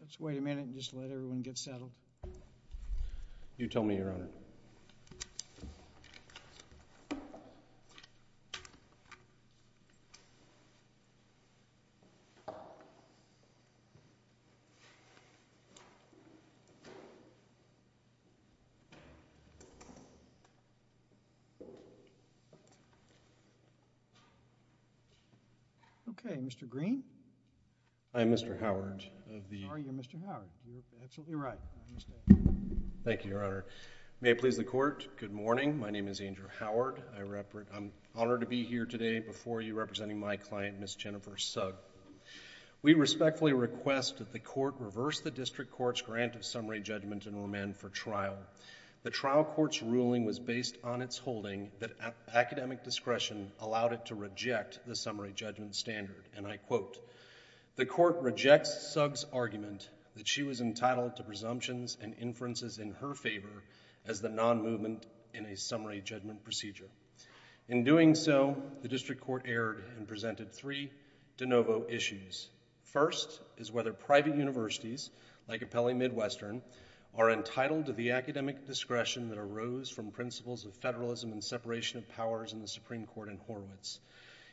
Let's wait a minute and just let everyone get settled. You tell me, Your Honor. Okay. Mr. Green? I'm Mr. Howard. Sorry, you're Mr. Howard. You're absolutely right. I understand. Thank you, Your Honor. May it please the Court. Good morning. My name is Andrew Howard. I'm honored to be here today before you representing my client, Ms. Jennifer Sugg. We respectfully request that the Court reverse the District Court's grant of summary judgment and remand for trial. The trial court's ruling was based on its holding that academic discretion allowed it to reject the summary judgment standard, and I quote, the Court rejects Sugg's argument that she was entitled to presumptions and inferences in her favor as the non-movement in a summary judgment procedure. In doing so, the District Court erred and presented three de novo issues. First is whether private universities, like Appellee Midwestern, are entitled to the academic discretion that arose from principles of federalism and separation of powers in the Supreme Court in Horwitz.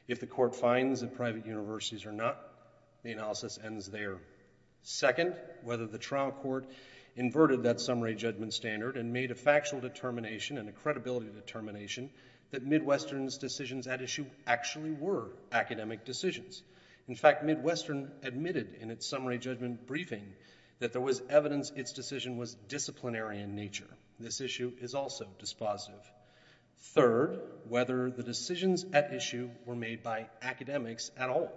If the Court finds that private universities are not, the analysis ends there. Second, whether the trial court inverted that summary judgment standard and made a factual determination and a credibility determination that Midwestern's decisions at issue actually were academic decisions. In fact, Midwestern admitted in its summary judgment briefing that there was evidence its decision was disciplinary in nature. This issue is also dispositive. Third, whether the decisions at issue were made by academics at all.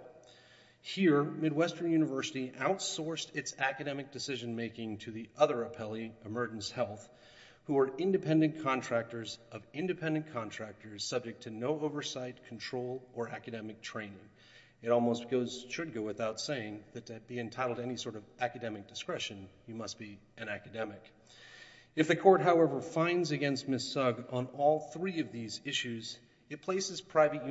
Here, Midwestern University outsourced its academic decision-making to the other appellee, Emergence Health, who are independent contractors of independent contractors subject to no oversight, control, or academic training. It almost should go without saying that to be entitled to any sort of academic discretion, you must be an academic. If the Court, however, finds against Ms. Sugg on all three of these issues, it places private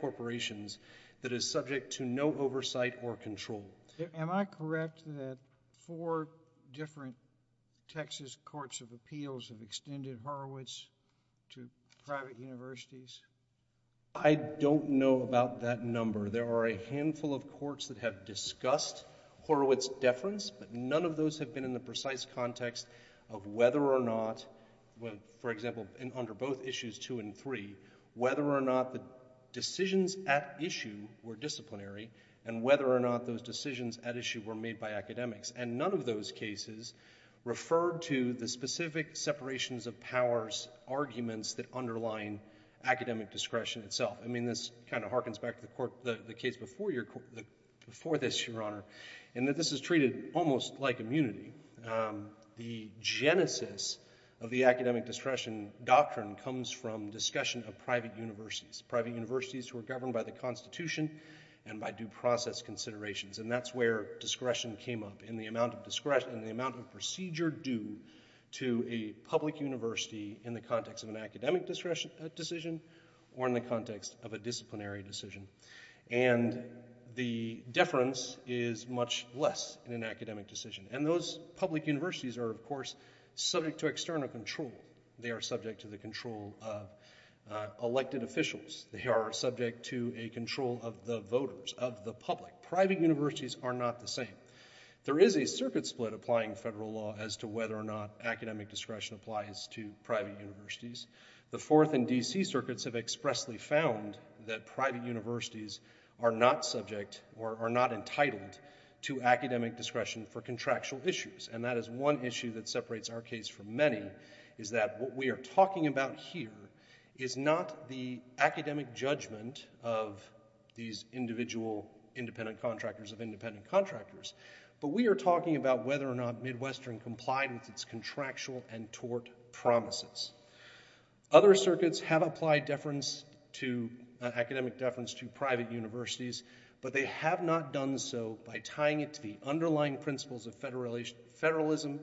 corporations that is subject to no oversight or control. Am I correct that four different Texas courts of appeals have extended Horwitz to private universities? I don't know about that number. There are a handful of courts that have discussed Horwitz deference, but none of those have been in the precise context of whether or not, for example, under both issues two and three, whether or not the decisions at issue were disciplinary and whether or not those decisions at issue were made by academics. And none of those cases referred to the specific separations of powers arguments that underline academic discretion itself. I mean, this kind of harkens back to the case before this, Your Honor, in that this is treated almost like immunity. The genesis of the academic discretion doctrine comes from discussion of private universities, private universities who are governed by the Constitution and by due process considerations. And that's where discretion came up, in the amount of procedure due to a public university in the context of an academic decision or in the context of a disciplinary decision. And the deference is much less in an academic decision. And those public universities are, of course, subject to external control. They are subject to the control of elected officials. They are subject to a control of the voters, of the public. Private universities are not the same. There is a circuit split applying federal law as to whether or not academic discretion applies to private universities. The Fourth and D.C. circuits have expressly found that private universities are not subject or are not entitled to academic discretion for contractual issues. And that is one issue that separates our case from many, is that what we are talking about here is not the academic judgment of these individual independent contractors of independent contractors, but we are talking about whether or not Midwestern complied with its contractual and tort promises. Other circuits have applied academic deference to private universities, but they have not done so by tying it to the underlying principles of federalism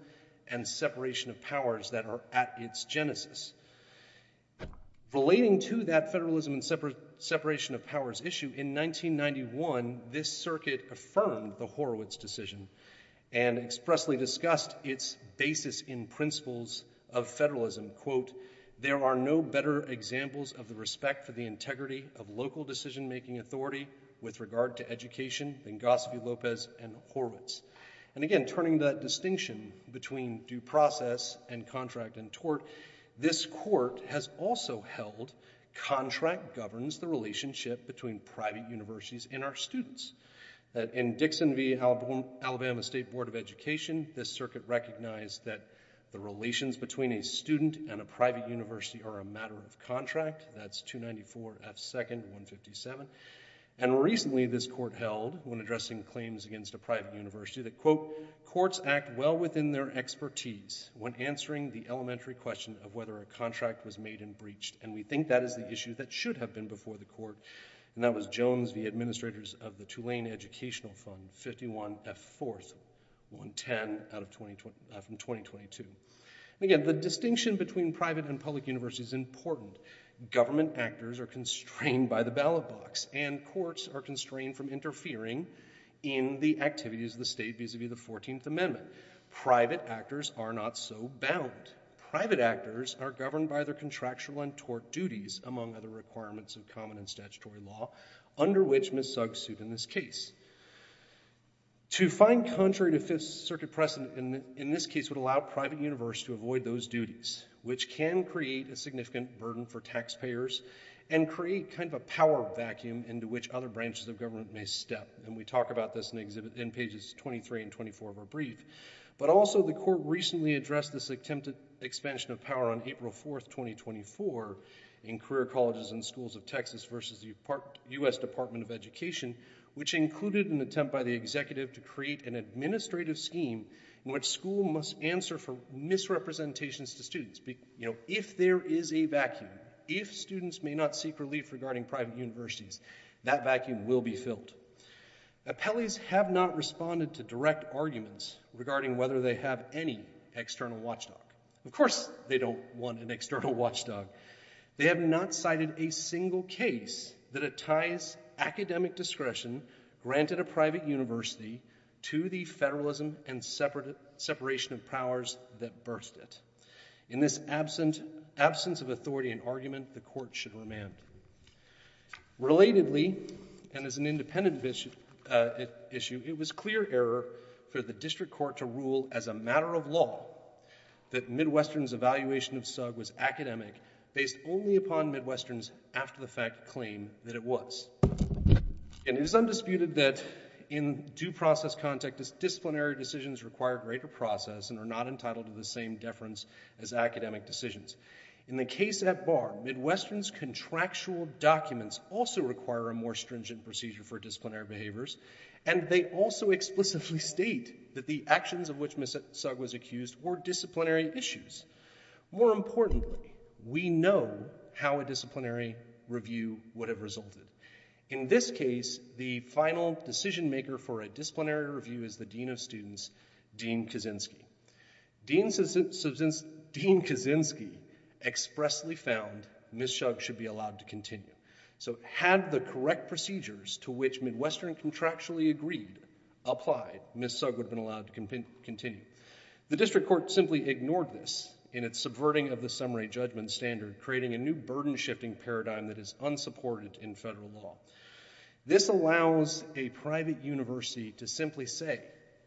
and separation of powers that are at its genesis. Relating to that federalism and separation of powers issue, in 1991 this circuit affirmed the Horowitz decision and expressly discussed its basis in principles of federalism. There are no better examples of the respect for the integrity of local decision-making authority with regard to education than Gosphy, Lopez, and Horowitz. And again, turning the distinction between due process and contract and tort, this court has also held contract governs the relationship between private universities and our students. In Dixon v. Alabama State Board of Education, this circuit recognized that the relations between a student and a private university are a matter of contract, that's 294 F. 2nd. 157. And recently this court held, when addressing claims against a private university, that, quote, courts act well within their expertise when answering the elementary question of whether a contract was made and breached, and we think that is the issue that should have been before the court. And that was Jones v. Administrators of the Tulane Educational Fund, 51 F. 4th. 110 from 2022. And again, the distinction between private and public universities is important. Government actors are constrained by the ballot box and courts are constrained from interfering in the activities of the state vis-à-vis the 14th Amendment. Private actors are not so bound. Private actors are governed by their contractual and tort duties, among other requirements of common and statutory law, under which Ms. Sugg sued in this case. To find contrary to Fifth Circuit precedent in this case would allow private universities to avoid those duties, which can create a significant burden for taxpayers and create kind of a power vacuum into which other branches of government may step. And we talk about this in pages 23 and 24 of our brief. But also the court recently addressed this attempted expansion of power on April 4th, 2024 in career colleges and schools of Texas versus the U.S. Department of Education, which included an attempt by the executive to create an administrative scheme in which school must answer for misrepresentations to students. You know, if there is a vacuum, if students may not seek relief regarding private universities, that vacuum will be filled. Appellees have not responded to direct arguments regarding whether they have any external watchdog. Of course they don't want an external watchdog. They have not cited a single case that attires academic discretion granted a private university to the federalism and separation of powers that birthed it. In this absence of authority and argument, the court should remand. Relatedly, and as an independent issue, it was clear error for the district court to rule as a matter of law that Midwestern's evaluation of SUG was academic based only upon Midwestern's after-the-fact claim that it was. And it is undisputed that in due process context, disciplinary decisions require greater process and are not entitled to the same deference as academic decisions. In the case at bar, Midwestern's contractual documents also require a more stringent procedure for disciplinary behaviors, and they also explicitly state that the actions of which SUG was accused were disciplinary issues. More importantly, we know how a disciplinary review would have resulted. In this case, the final decision-maker for a disciplinary review is the dean of students, Dean Kaczynski. Dean Kaczynski expressly found Ms. SUG should be allowed to continue. So had the correct procedures to which Midwestern contractually agreed applied, Ms. SUG would have been allowed to continue. The district court simply ignored this in its subverting of the summary judgment standard, creating a new burden-shifting paradigm that is unsupported in federal law. This allows a private university to simply say,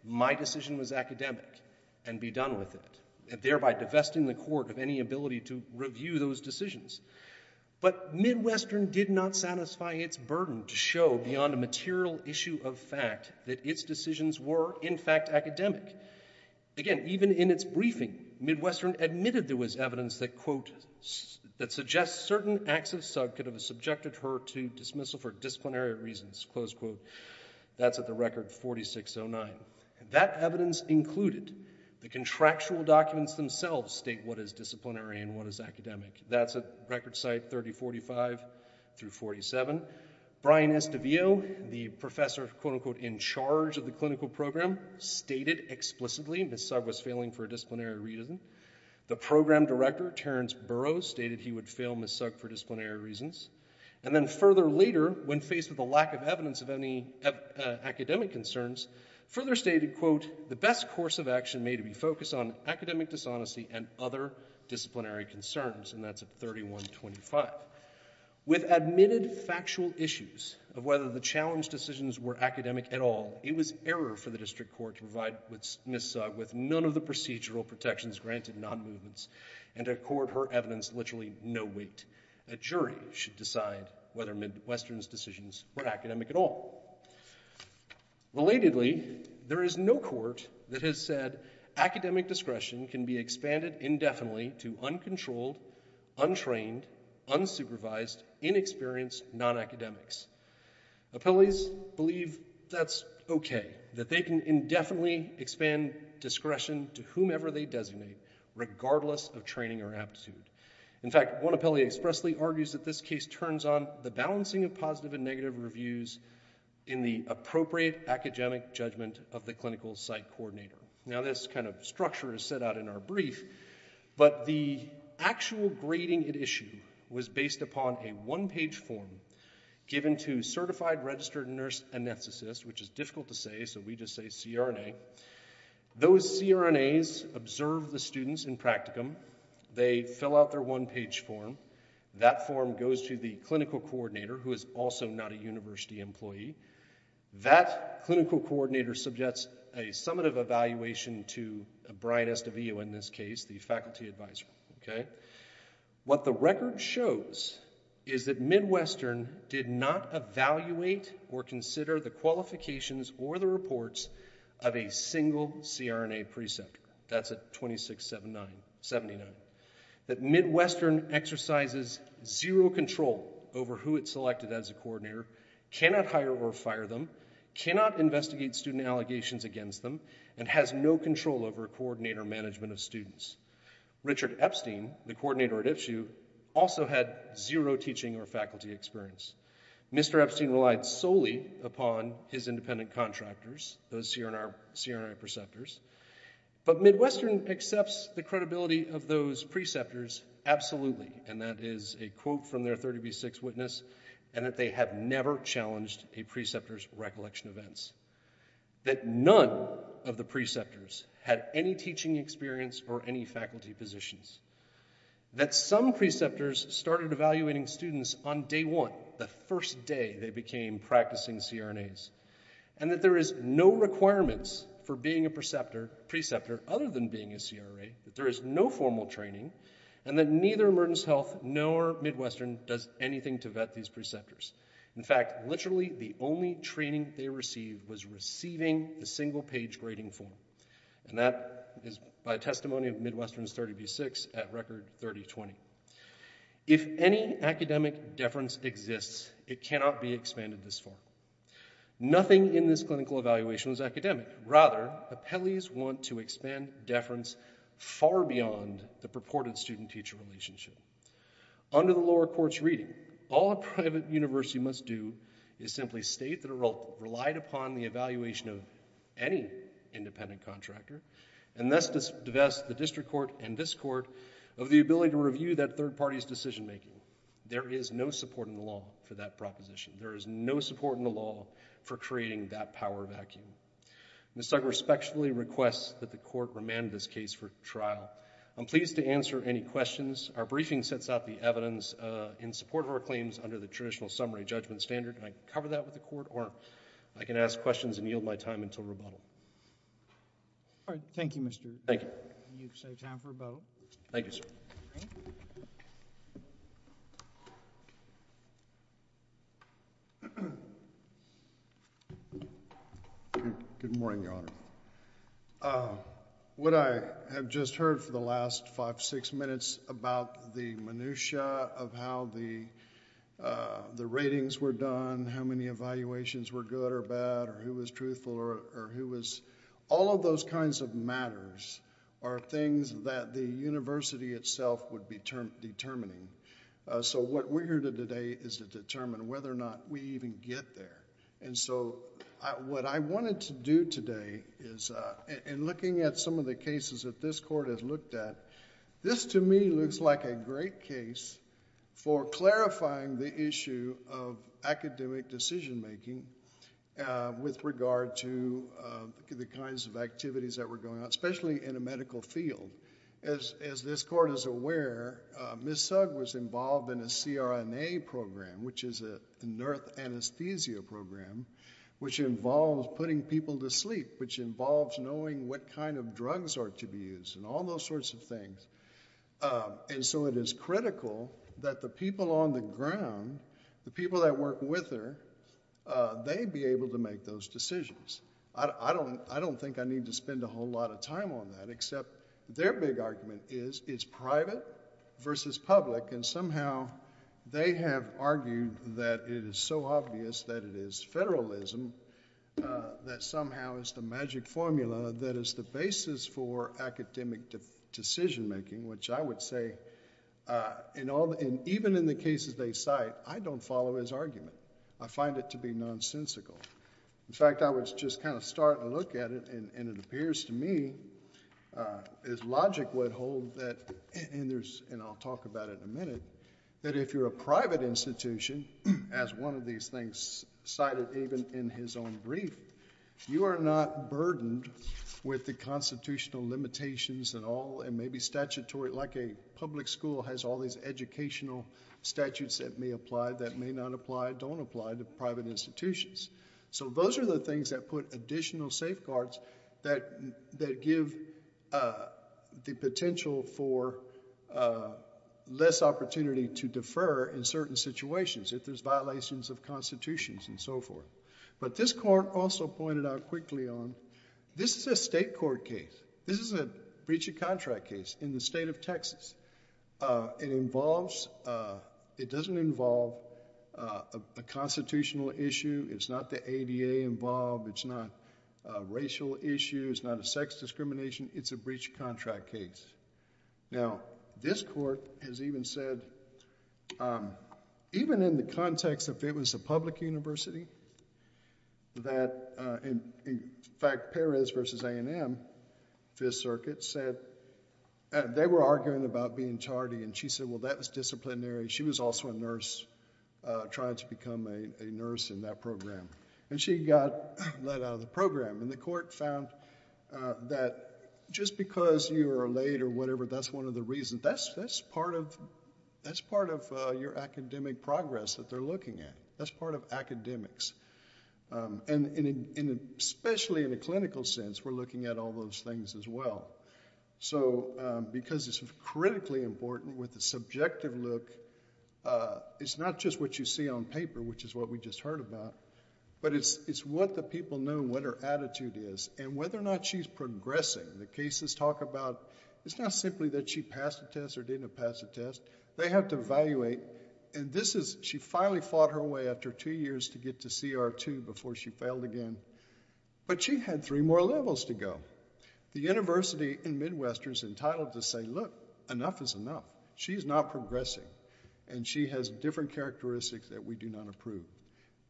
my decision was academic, and be done with it, thereby divesting the court of any ability to review those decisions. But Midwestern did not satisfy its burden to show beyond a material issue of fact that its decisions were, in fact, academic. Again, even in its briefing, Midwestern admitted there was evidence that, quote, that suggests certain acts of SUG could have subjected her to dismissal for disciplinary reasons, close quote. That's at the record 4609. That evidence included the contractual documents themselves state what is disciplinary and what is academic. That's at record site 3045 through 47. Brian Estavio, the professor, quote, unquote, in charge of the clinical program, stated explicitly Ms. SUG was failing for a disciplinary reason. The program director, Terrence Burroughs, stated he would fail Ms. SUG for disciplinary reasons. And then further later, when faced with a lack of evidence of any academic concerns, further stated, quote, the best course of action may be to focus on academic dishonesty and other disciplinary concerns. And that's at 3125. With admitted factual issues of whether the challenge decisions were academic at all, it was error for the district court to provide Ms. SUG with none of the procedural protections granted non-movements and to accord her evidence literally no weight. A jury should decide whether Midwestern's decisions were academic at all. Relatedly, there is no court that has said academic discretion can be expanded indefinitely to uncontrolled, untrained, unsupervised, inexperienced non-academics. Appellees believe that's okay, that they can indefinitely expand discretion to whomever they designate, regardless of training or aptitude. In fact, one appellee expressly argues that this case turns on the balancing of positive and negative reviews in the appropriate academic judgment of the clinical site coordinator. Now, this kind of structure is set out in our brief, but the actual grading at issue was based upon a one-page form given to certified registered nurse anesthetists, which is difficult to say, so we just say CRNA. Those CRNAs observe the students in practicum. They fill out their one-page form. That form goes to the clinical coordinator, who is also not a university employee. That clinical coordinator subjects a summative evaluation to a brightest of you in this case, the faculty advisor. What the record shows is that Midwestern did not evaluate or consider the qualifications or the reports of a single CRNA preceptor. That's at 2679. That Midwestern exercises zero control over who it selected as a coordinator, cannot hire or fire them, cannot investigate student allegations against them, and has no control over coordinator management of students. Richard Epstein, the coordinator at Ipshu, also had zero teaching or faculty experience. Mr. Epstein relied solely upon his independent contractors, those CRNA preceptors, but Midwestern accepts the credibility of those preceptors absolutely, and that is a quote from their 30B6 witness, and that they have never challenged a preceptor's recollection events. That none of the preceptors had any teaching experience or any faculty positions. That some preceptors started evaluating students on day one, the first day they became practicing CRNAs. And that there is no requirements for being a preceptor other than being a CRA, that there is no formal training, and that neither emergency health nor Midwestern does anything to vet these preceptors. In fact, literally the only training they received was receiving the single-page grading form, and that is by testimony of Midwestern's 30B6 at Record 3020. If any academic deference exists, it cannot be expanded this far. Nothing in this clinical evaluation is academic. Rather, appellees want to expand deference far beyond the purported student-teacher relationship. Under the lower courts' reading, all a private university must do is simply state that it relied upon the evaluation of any independent contractor, and thus divest the district court and this court of the ability to review that third party's decision-making. There is no support in the law for that proposition. There is no support in the law for creating that power vacuum. Ms. Zucker respectfully requests that the court remand this case for trial. I'm pleased to answer any questions. Our briefing sets out the evidence in support of our claims under the traditional summary judgment standard, and I can cover that with the court, or I can ask questions and yield my time until rebuttal. All right. Thank you, Mr.. Thank you. You've saved time for rebuttal. Thank you, sir. Good morning, Your Honor. What I have just heard for the last five, six minutes about the minutiae of how the ratings were done, how many evaluations were good or bad, or who was truthful or who was... All of those kinds of matters are things that the university itself would be determining. So what we're here to do today is to determine whether or not we even get there. And so what I wanted to do today is... In looking at some of the cases that this court has looked at, this, to me, looks like a great case for clarifying the issue of academic decision-making with regard to the kinds of activities that were going on, especially in a medical field. As this court is aware, Ms. Sugg was involved in a CRNA program, which is a nerve anesthesia program, which involves putting people to sleep, which involves knowing what kind of drugs are to be used and all those sorts of things. And so it is critical that the people on the ground, the people that work with her, they be able to make those decisions. I don't think I need to spend a whole lot of time on that, except their big argument is it's private versus public, and somehow they have argued that it is so obvious that it is federalism that somehow is the magic formula that is the basis for academic decision-making, which I would say, even in the cases they cite, I don't follow his argument. I find it to be nonsensical. In fact, I would just kind of start and look at it, and it appears to me, as logic would hold, and I'll talk about it in a minute, that if you're a private institution, as one of these things cited even in his own brief, you are not burdened with the constitutional limitations and all, and maybe statutory, like a public school has all these educational statutes that may apply, that may not apply, don't apply to private institutions. So those are the things that put additional safeguards that give the potential for less opportunity to defer in certain situations if there's violations of constitutions and so forth. But this court also pointed out quickly on, this is a state court case. This is a breach of contract case in the state of Texas. It involves, it doesn't involve a constitutional issue. It's not the ADA involved. It's not a racial issue. It's not a sex discrimination. It's a breach of contract case. Now, this court has even said, even in the context if it was a public university, that, in fact, Perez versus A&M, Fifth Circuit, said, they were arguing about being tardy, and she said, well, that was disciplinary. She was also a nurse, trying to become a nurse in that program. And she got let out of the program. And the court found that just because you are late or whatever, that's one of the reasons, that's part of your academic progress that they're looking at. That's part of academics. And especially in a clinical sense, we're looking at all those things as well. So because it's critically important with the subjective look, it's not just what you see on paper, which is what we just heard about, but it's what the people know, what her attitude is, and whether or not she's progressing. The cases talk about, it's not simply that she passed a test or didn't pass a test. They have to evaluate. And this is, she finally fought her way after two years to get to CR2 before she failed again. But she had three more levels to go. The university in Midwestern is entitled to say, look, enough is enough. She's not progressing. And she has different characteristics that we do not approve.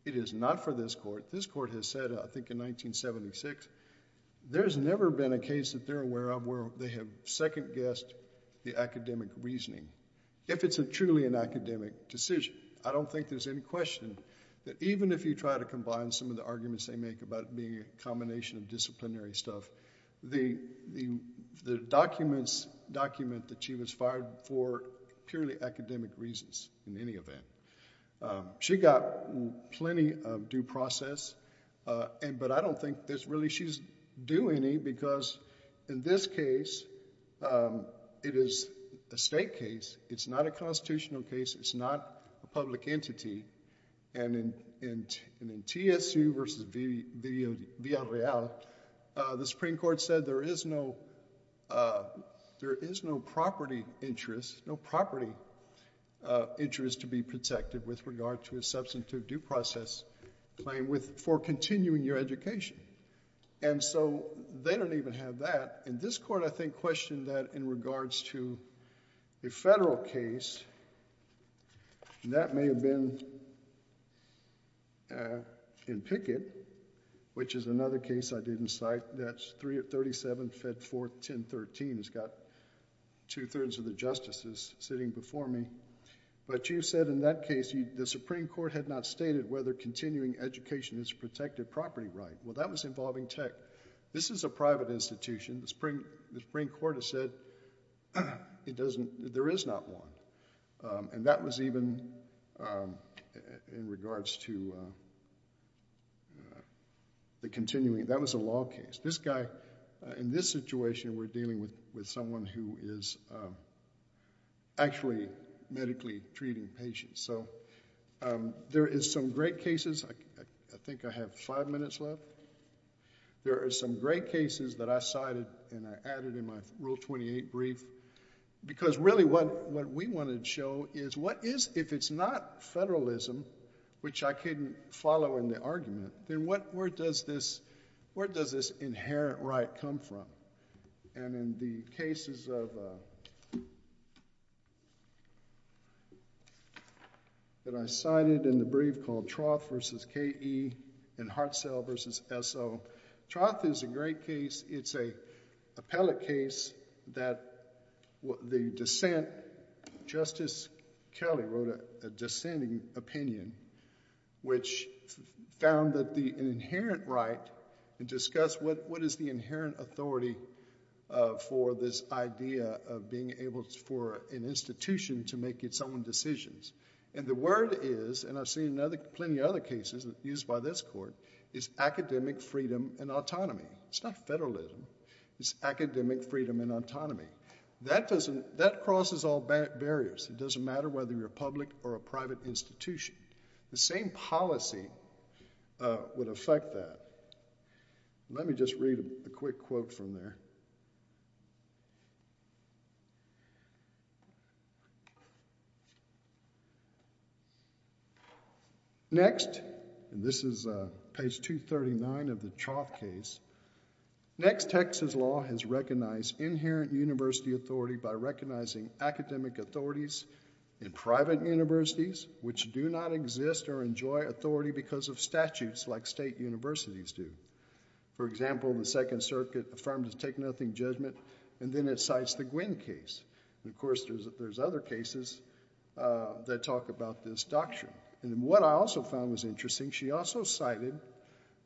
It is not for this court. This court has said, I think in 1976, there's never been a case that they're aware of where they have second-guessed the academic reasoning. If it's truly an academic decision, I don't think there's any question that even if you try to combine some of the arguments they make about it being a combination of disciplinary stuff, the documents document that she was fired for are purely academic reasons in any event. She got plenty of due process, but I don't think there's really, she's due any, because in this case, it is a state case. It's not a constitutional case. It's not a public entity. And in TSU versus Villarreal, the Supreme Court said there is no property interest to be protected with regard to a substantive due process claim for continuing your education. And so they don't even have that. And this court, I think, questioned that in regards to a federal case. And that may have been in Pickett, which is another case I didn't cite. That's 37-4-10-13. It's got two-thirds of the justices sitting before me. But you said in that case, the Supreme Court had not stated whether continuing education is a protected property right. Well, that was involving tech. This is a private institution. The Supreme Court has said there is not one. And that was even in regards to the continuing. That was a law case. This guy, in this situation, we're dealing with someone who is actually medically treating patients. So there is some great cases. I think I have five minutes left. There are some great cases that I cited and I added in my Rule 28 brief. Because really, what we wanted to show is what is, if it's not federalism, which I couldn't follow in the argument, then where does this inherent right come from? And in the cases that I cited in the brief called Hartsell v. KE and Hartsell v. SO, Troth is a great case. It's an appellate case that the dissent, Justice Kelly wrote a dissenting opinion, which found that the inherent right, and discussed what is the inherent authority for this idea of being able for an institution to make its own decisions. And the word is, and I've seen plenty of other cases used by this court, is academic freedom and autonomy. It's not federalism. It's academic freedom and autonomy. That crosses all barriers. It doesn't matter whether you're a public or a private institution. The same policy would affect that. Let me just read a quick quote from there. Next, and this is page 239 of the Troth case. Next, Texas law has recognized inherent university authority by recognizing academic authorities in private universities, which do not exist or enjoy authority because of statutes like state universities do. For example, the Second Circuit affirmed to take nothing judgment, and then it cites the Gwynn case. And of course, there's other cases that talk about this doctrine. And what I also found was interesting, she also cited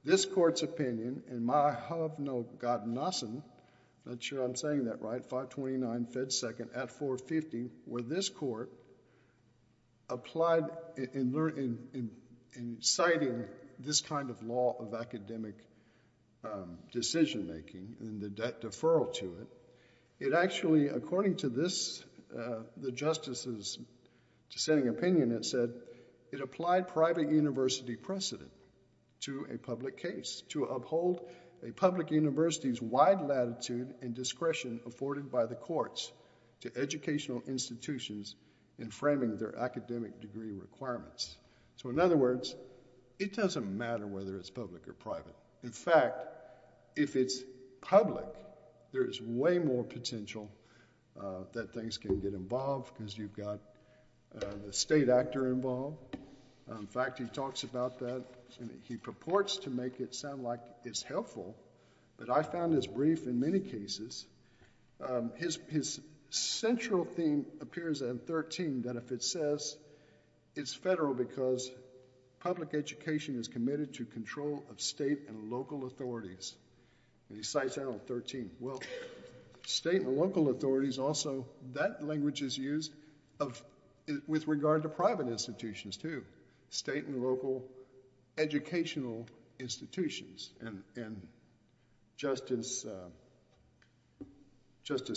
this court's opinion, in my hub no god nossen, not sure I'm saying that right, 529 Fed Second at 450, where this court applied in citing this kind of law of academic decision making and the deferral to it. It actually, according to the justice's dissenting opinion, it said, it applied private university precedent to a public case to uphold a public university's wide latitude and discretion afforded by the courts to educational institutions in framing their academic degree requirements. So in other words, it doesn't matter whether it's public or private. In fact, if it's public, there is way more potential that things can get involved because you've got the state actor involved. In fact, he talks about that. He purports to make it sound like it's helpful, but I found his brief in many cases. His central theme appears in 13, that if it says it's federal because public education is committed to control of state and local authorities. And he cites that on 13. Well, state and local authorities also, that language is used with regard to private institutions too. State and local educational institutions. And Justice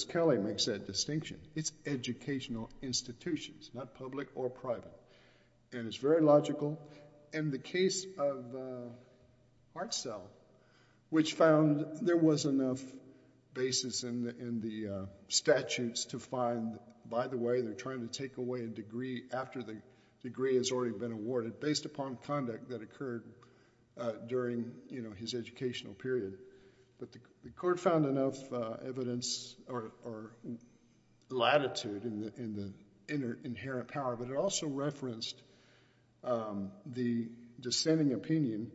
Kelly makes that distinction. It's educational institutions, not public or private. And it's very logical. And the case of Hartzell, which found there was enough basis in the statutes to find, by the way, they're trying to take away a degree after the degree has already been awarded based upon conduct that occurred during his educational period. But the court found enough evidence or latitude in the inherent power. But it also referenced the dissenting opinion,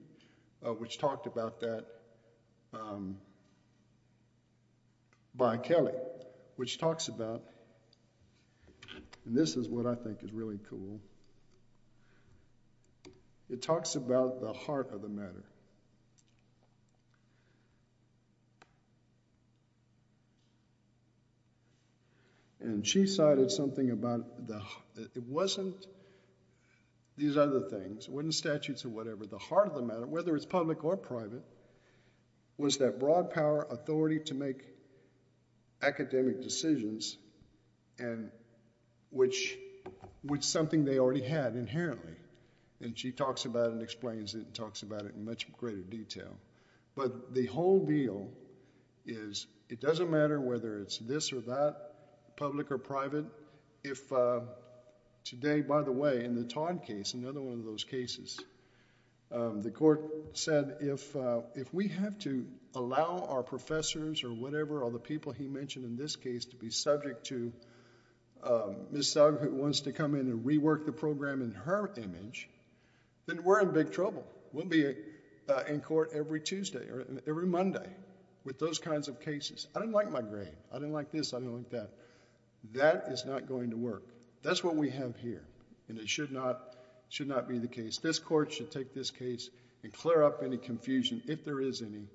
which talked about that by Kelly, which talks about, and this is what I think is really cool, it talks about the heart of the matter. And she cited something about the, it wasn't these other things, it wasn't statutes or whatever. The heart of the matter, whether it's public or private, was that broad power, authority to make academic decisions, and which was something they already had inherently. And she talks about it and explains it, and talks about it in much more detail. Much greater detail. But the whole deal is it doesn't matter whether it's this or that, public or private, if today, by the way, in the Todd case, another one of those cases, the court said if we have to allow our professors or whatever or the people he mentioned in this case to be subject to Ms. Thug who wants to come in and rework the program in her image, then we're in big trouble. We'll be in court every Tuesday or every Monday with those kinds of cases. I didn't like my grade. I didn't like this. I didn't like that. That is not going to work. That's what we have here, and it should not be the case. This court should take this case and clear up any confusion, if there is any,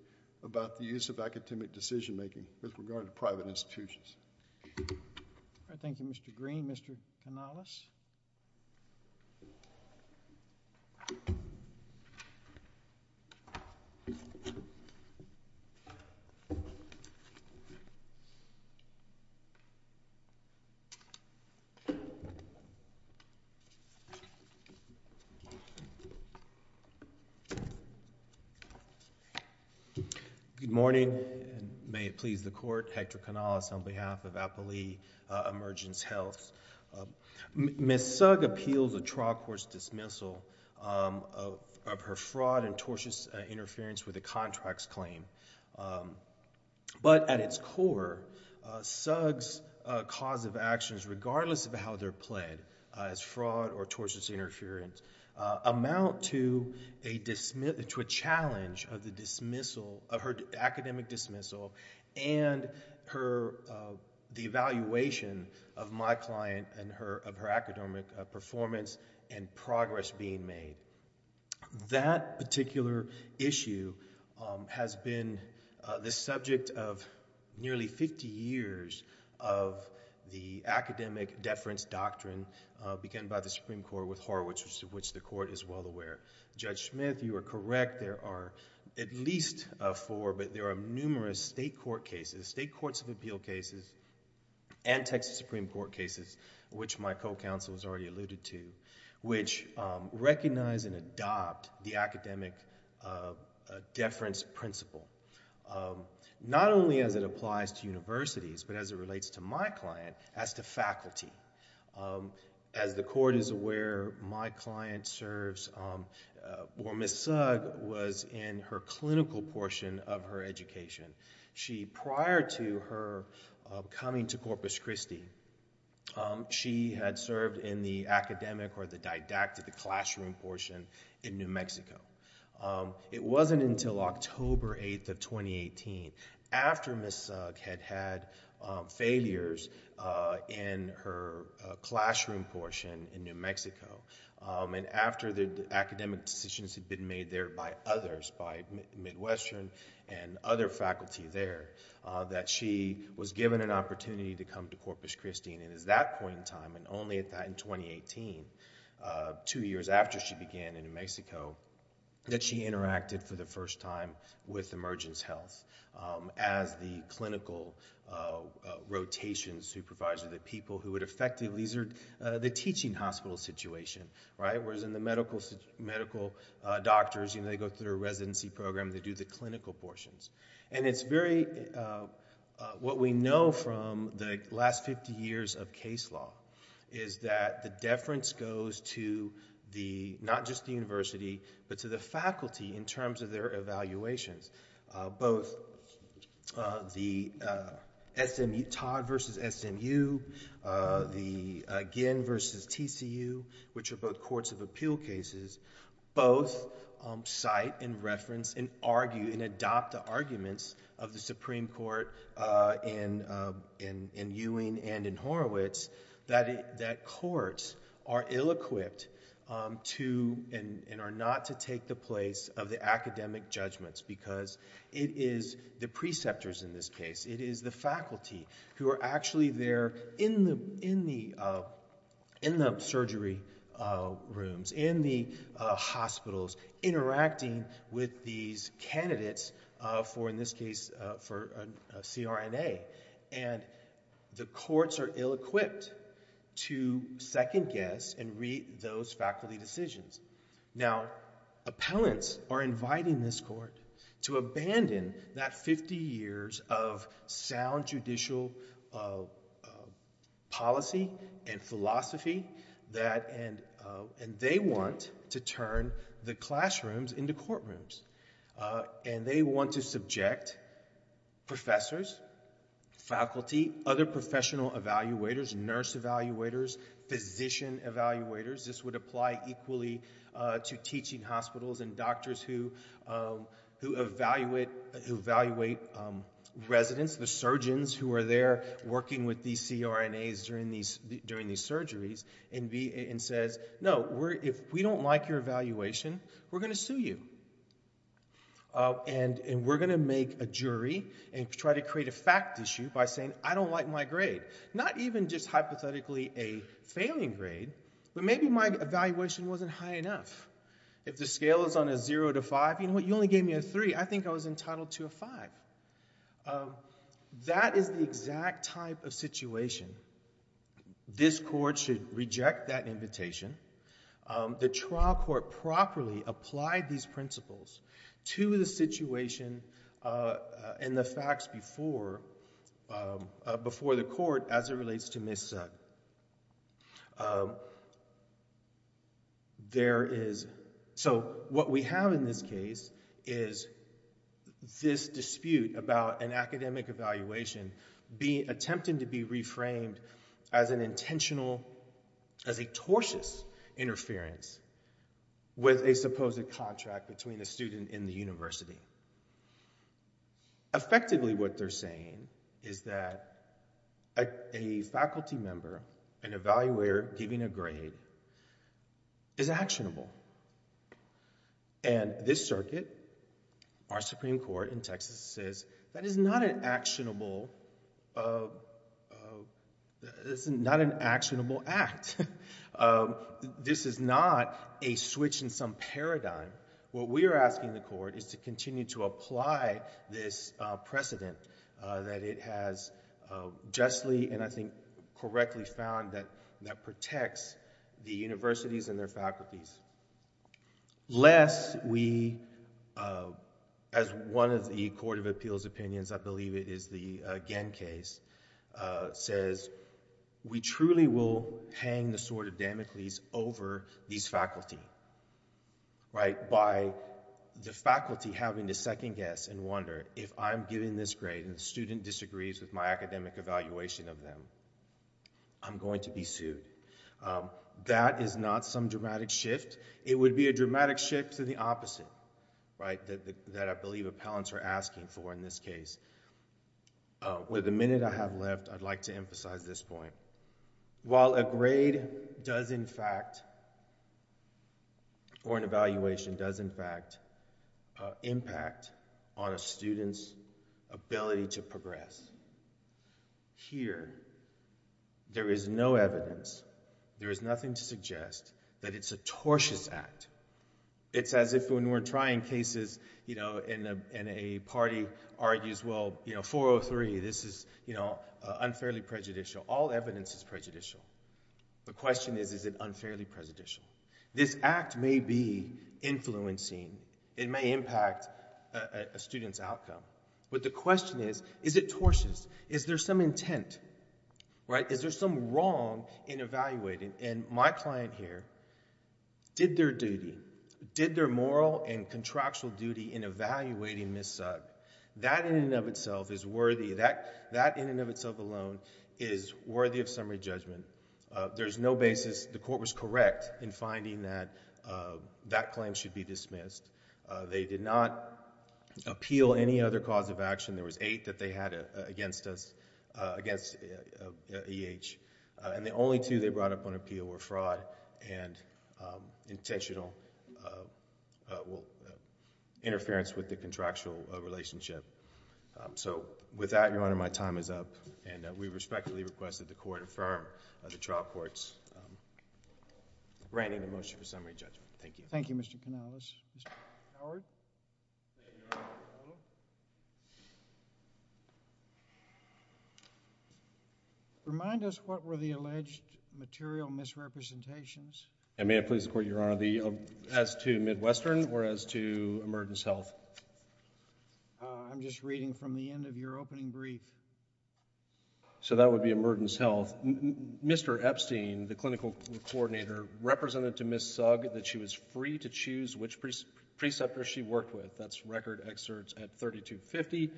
about the use of academic decision making with regard to private institutions. All right. Thank you, Mr. Green. Mr. Canales? Good morning. And may it please the court, Hector Canales, on behalf of Appali Emergence Health. Ms. Thug appeals a trial court's dismissal of her fraud and tortious interference with the contract's claim. But at its core, Thug's cause of actions, regardless of how they're played, as fraud or tortious interference, amount to a challenge of her academic dismissal and the evaluation of my client and of her academic performance and progress being made. That particular issue has been the subject of nearly 50 years of the academic deference doctrine, began by the Supreme Court with Horowitz, of which the court is well aware. Judge Smith, you are correct. There are at least four. But there are numerous state court cases, state courts of appeal cases, and Texas Supreme Court cases, which my co-counsel has already alluded to, which recognize and adopt the academic deference principle, not only as it applies to universities, but as it relates to my client, as to faculty. As the court is aware, my client serves, or Ms. Thug was in her clinical portion of her education. She, prior to her coming to Corpus Christi, she had served in the academic or the didactic classroom portion in New Mexico. It wasn't until October 8th of 2018, after Ms. Thug had had failures in her classroom portion in New Mexico, and after the academic decisions had been made there by others, by Midwestern and other faculty there, that she was given an opportunity to come to Corpus Christi. And it was that point in time, and only in 2018, two years after she began in New Mexico, that she interacted for the first time with Emergence Health as the clinical rotation supervisor, the people who would effectively... the teaching hospital situation, right? Whereas in the medical doctors, they go through a residency program, they do the clinical portions. And it's very... What we know from the last 50 years of case law is that the deference goes to the... not just the university, but to the faculty in terms of their evaluations, both the SMU... Todd versus SMU, the Ginn versus TCU, which are both courts of appeal cases, both cite and reference and argue and adopt the arguments of the Supreme Court in Ewing and in Horowitz that courts are ill-equipped to... and are not to take the place of the academic judgments, because it is the preceptors in this case, it is the faculty who are actually there in the surgery rooms, in the hospitals, interacting with these candidates for, in this case, for a CRNA. And the courts are ill-equipped to second-guess and read those faculty decisions. Now, appellants are inviting this court to abandon that 50 years of sound judicial policy and philosophy that... And they want to turn the classrooms into courtrooms. And they want to subject professors, faculty, other professional evaluators, nurse evaluators, physician evaluators. This would apply equally to teaching hospitals and doctors who evaluate residents, the surgeons who are there working with these CRNAs during these surgeries, and says, no, if we don't like your evaluation, we're going to sue you. And we're going to make a jury and try to create a fact issue by saying, I don't like my grade. Not even just hypothetically a failing grade, but maybe my evaluation wasn't high enough. If the scale is on a 0 to 5, you know what, you only gave me a 3. I think I was entitled to a 5. That is the exact type of situation. This court should reject that invitation. The trial court properly applied these principles to the situation and the facts before the court as it relates to Ms. Sud. There is, so what we have in this case is this dispute about an academic evaluation attempting to be reframed as an intentional, as a tortuous interference with a supposed contract between a student and the university. Effectively what they're saying is that a faculty member, an evaluator giving a grade, is actionable. And this circuit, our Supreme Court in Texas, says that is not an actionable, it's not an actionable act. This is not a switch in some paradigm. What we are asking the court is to continue to apply this precedent that it has justly, and I think correctly, found that protects the universities and their faculties. Lest we, as one of the Court of Appeals opinions, I believe it is the Genn case, says we truly will hang the sword of Damocles over these faculty. By the faculty having to second guess and wonder if I'm giving this grade and the student disagrees with my academic evaluation of them, I'm going to be sued. That is not some dramatic shift. It would be a dramatic shift to the opposite, that I believe appellants are asking for in this case. With the minute I have left, I'd like to emphasize this point. While a grade does in fact, or an evaluation does in fact, impact on a student's ability to progress, here, there is no evidence, there is nothing to suggest, that it's a tortious act. It's as if when we're trying cases, and a party argues, well, 403, this is unfairly prejudicial. All evidence is prejudicial. The question is, is it unfairly prejudicial? This act may be influencing, it may impact a student's outcome. But the question is, is it tortious? Is there some intent? Is there some wrong in evaluating? My client here did their duty, did their moral and contractual duty in evaluating Ms. Sugg. That in and of itself is worthy, that in and of itself alone is worthy of summary judgment. There's no basis, the court was correct in finding that that claim should be dismissed. They did not appeal any other cause of action. There was eight that they had against us, against E.H. And the only two they brought up on appeal were fraud and intentional interference with the contractual relationship. So with that, Your Honor, my time is up. And we respectfully request that the court affirm the trial court's granting the motion for summary judgment. Thank you. Thank you, Mr. Canales. Mr. Howard? Thank you, Your Honor. Hello. Remind us what were the alleged material misrepresentations. And may I please, Your Honor, as to Midwestern or as to Emergence Health? I'm just reading from the end of your opening brief. So that would be Emergence Health. Mr. Epstein, the clinical coordinator, represented to Ms. Sugg that she was free to choose which preceptor she worked with. That's record excerpts at 3250.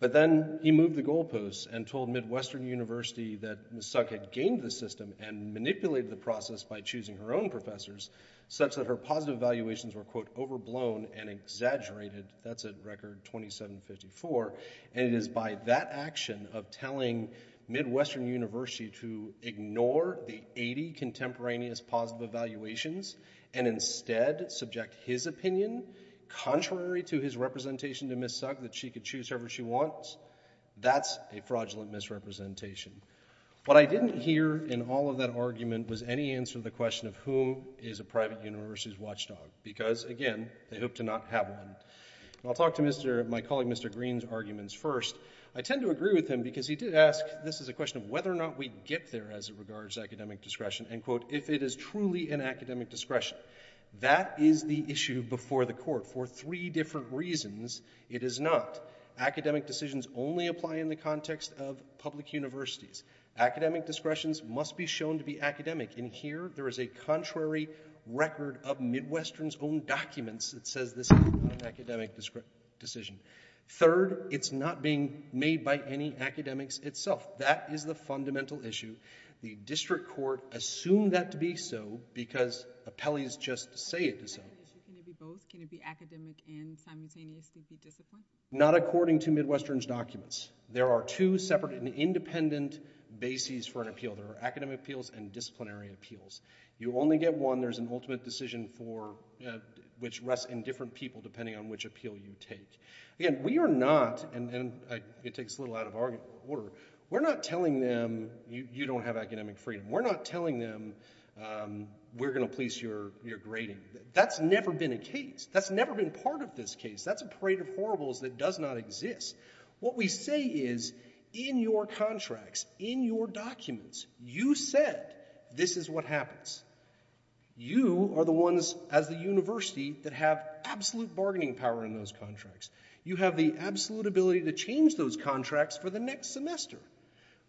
But then he moved the goalposts and told Midwestern University that Ms. Sugg had gained the system and manipulated the process by choosing her own professors such that her positive evaluations were, quote, overblown and exaggerated. That's at record 2754. And it is by that action of telling Midwestern University to ignore the 80 contemporaneous positive evaluations and instead subject his opinion, contrary to his representation to Ms. Sugg, that she could choose whoever she wants. That's a fraudulent misrepresentation. What I didn't hear in all of that argument was any answer to the question of who is a private university's watchdog because, again, they hope to not have one. And I'll talk to my colleague Mr. Green's arguments first. I tend to agree with him because he did ask... This is a question of whether or not we'd get there as it regards academic discretion. And, quote, if it is truly an academic discretion. That is the issue before the court for three different reasons. It is not. Academic decisions only apply in the context of public universities. Academic discretions must be shown to be academic. And here there is a contrary record of Midwestern's own documents that says this is not an academic decision. Third, it's not being made by any academics itself. That is the fundamental issue. The district court assumed that to be so because appellees just say it is so. Can it be both? Can it be academic and simultaneously be discipline? Not according to Midwestern's documents. There are two separate and independent bases for an appeal. There are academic appeals and disciplinary appeals. You only get one. There's an ultimate decision for... which rests in different people depending on which appeal you take. Again, we are not... and it takes a little out of order... we're not telling them you don't have academic freedom. We're not telling them we're going to police your grading. That's never been a case. That's never been part of this case. That's a parade of horribles that does not exist. What we say is in your contracts, in your documents, you said this is what happens. You are the ones as the university that have absolute bargaining power in those contracts. You have the absolute ability to change those contracts for the next semester.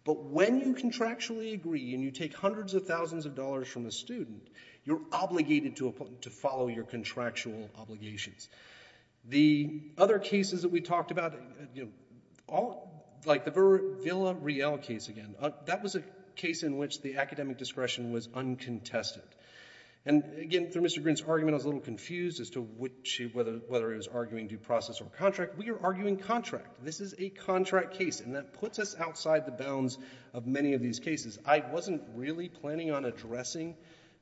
But when you contractually agree and you take hundreds of thousands of dollars from a student, you're obligated to follow your contractual obligations. The other cases that we talked about, like the Villa Riel case again, that was a case in which the academic discretion was uncontested. And again, through Mr. Green's argument, I was a little confused as to whether he was arguing due process or contract. We are arguing contract. This is a contract case, and that puts us outside the bounds of many of these cases. I wasn't really planning on addressing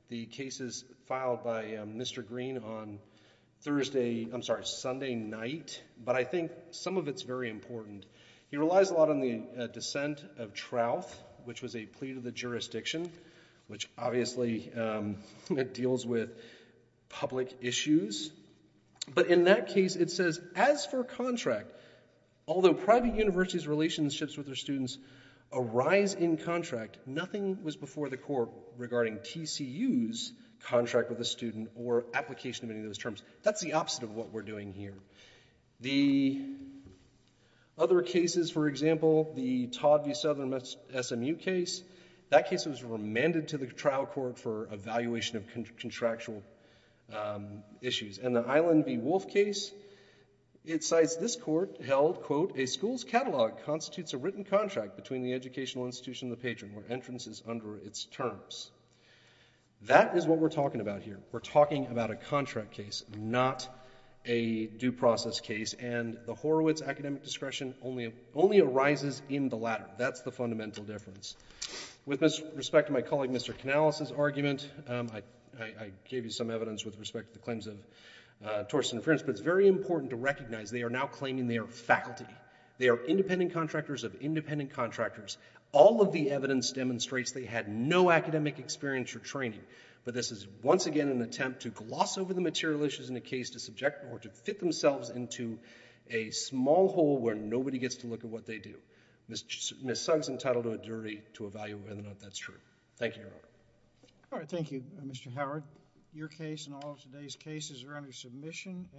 the cases filed by Mr. Green on Thursday... I'm sorry, Sunday night, but I think some of it's very important. He relies a lot on the dissent of Trouth, which was a plea to the jurisdiction, which obviously deals with public issues. But in that case, it says, as for contract, although private universities' relationships with their students arise in contract, nothing was before the court regarding TCU's contract with a student or application of any of those terms. That's the opposite of what we're doing here. The other cases, for example, the Todd v. Southern SMU case, that case was remanded to the trial court for evaluation of contractual issues. And the Island v. Wolf case, it cites this court held, quote, a school's catalog constitutes a written contract between the educational institution and the patron where entrance is under its terms. That is what we're talking about here. We're talking about a contract case, not a due process case, and the Horowitz academic discretion only arises in the latter. That's the fundamental difference. With respect to my colleague Mr. Canales' argument, I gave you some evidence with respect to the claims of torts and inference, but it's very important to recognize they are now claiming they are faculty. They are independent contractors of independent contractors. All of the evidence demonstrates they had no academic experience or training, but this is once again an attempt to gloss over the material issues in the case to fit themselves into a small hole where nobody gets to look at what they do. Ms. Sung's entitled to a jury to evaluate whether or not that's true. Thank you, Your Honor. All right. Thank you, Mr. Howard. Your case and all of today's cases are under submission.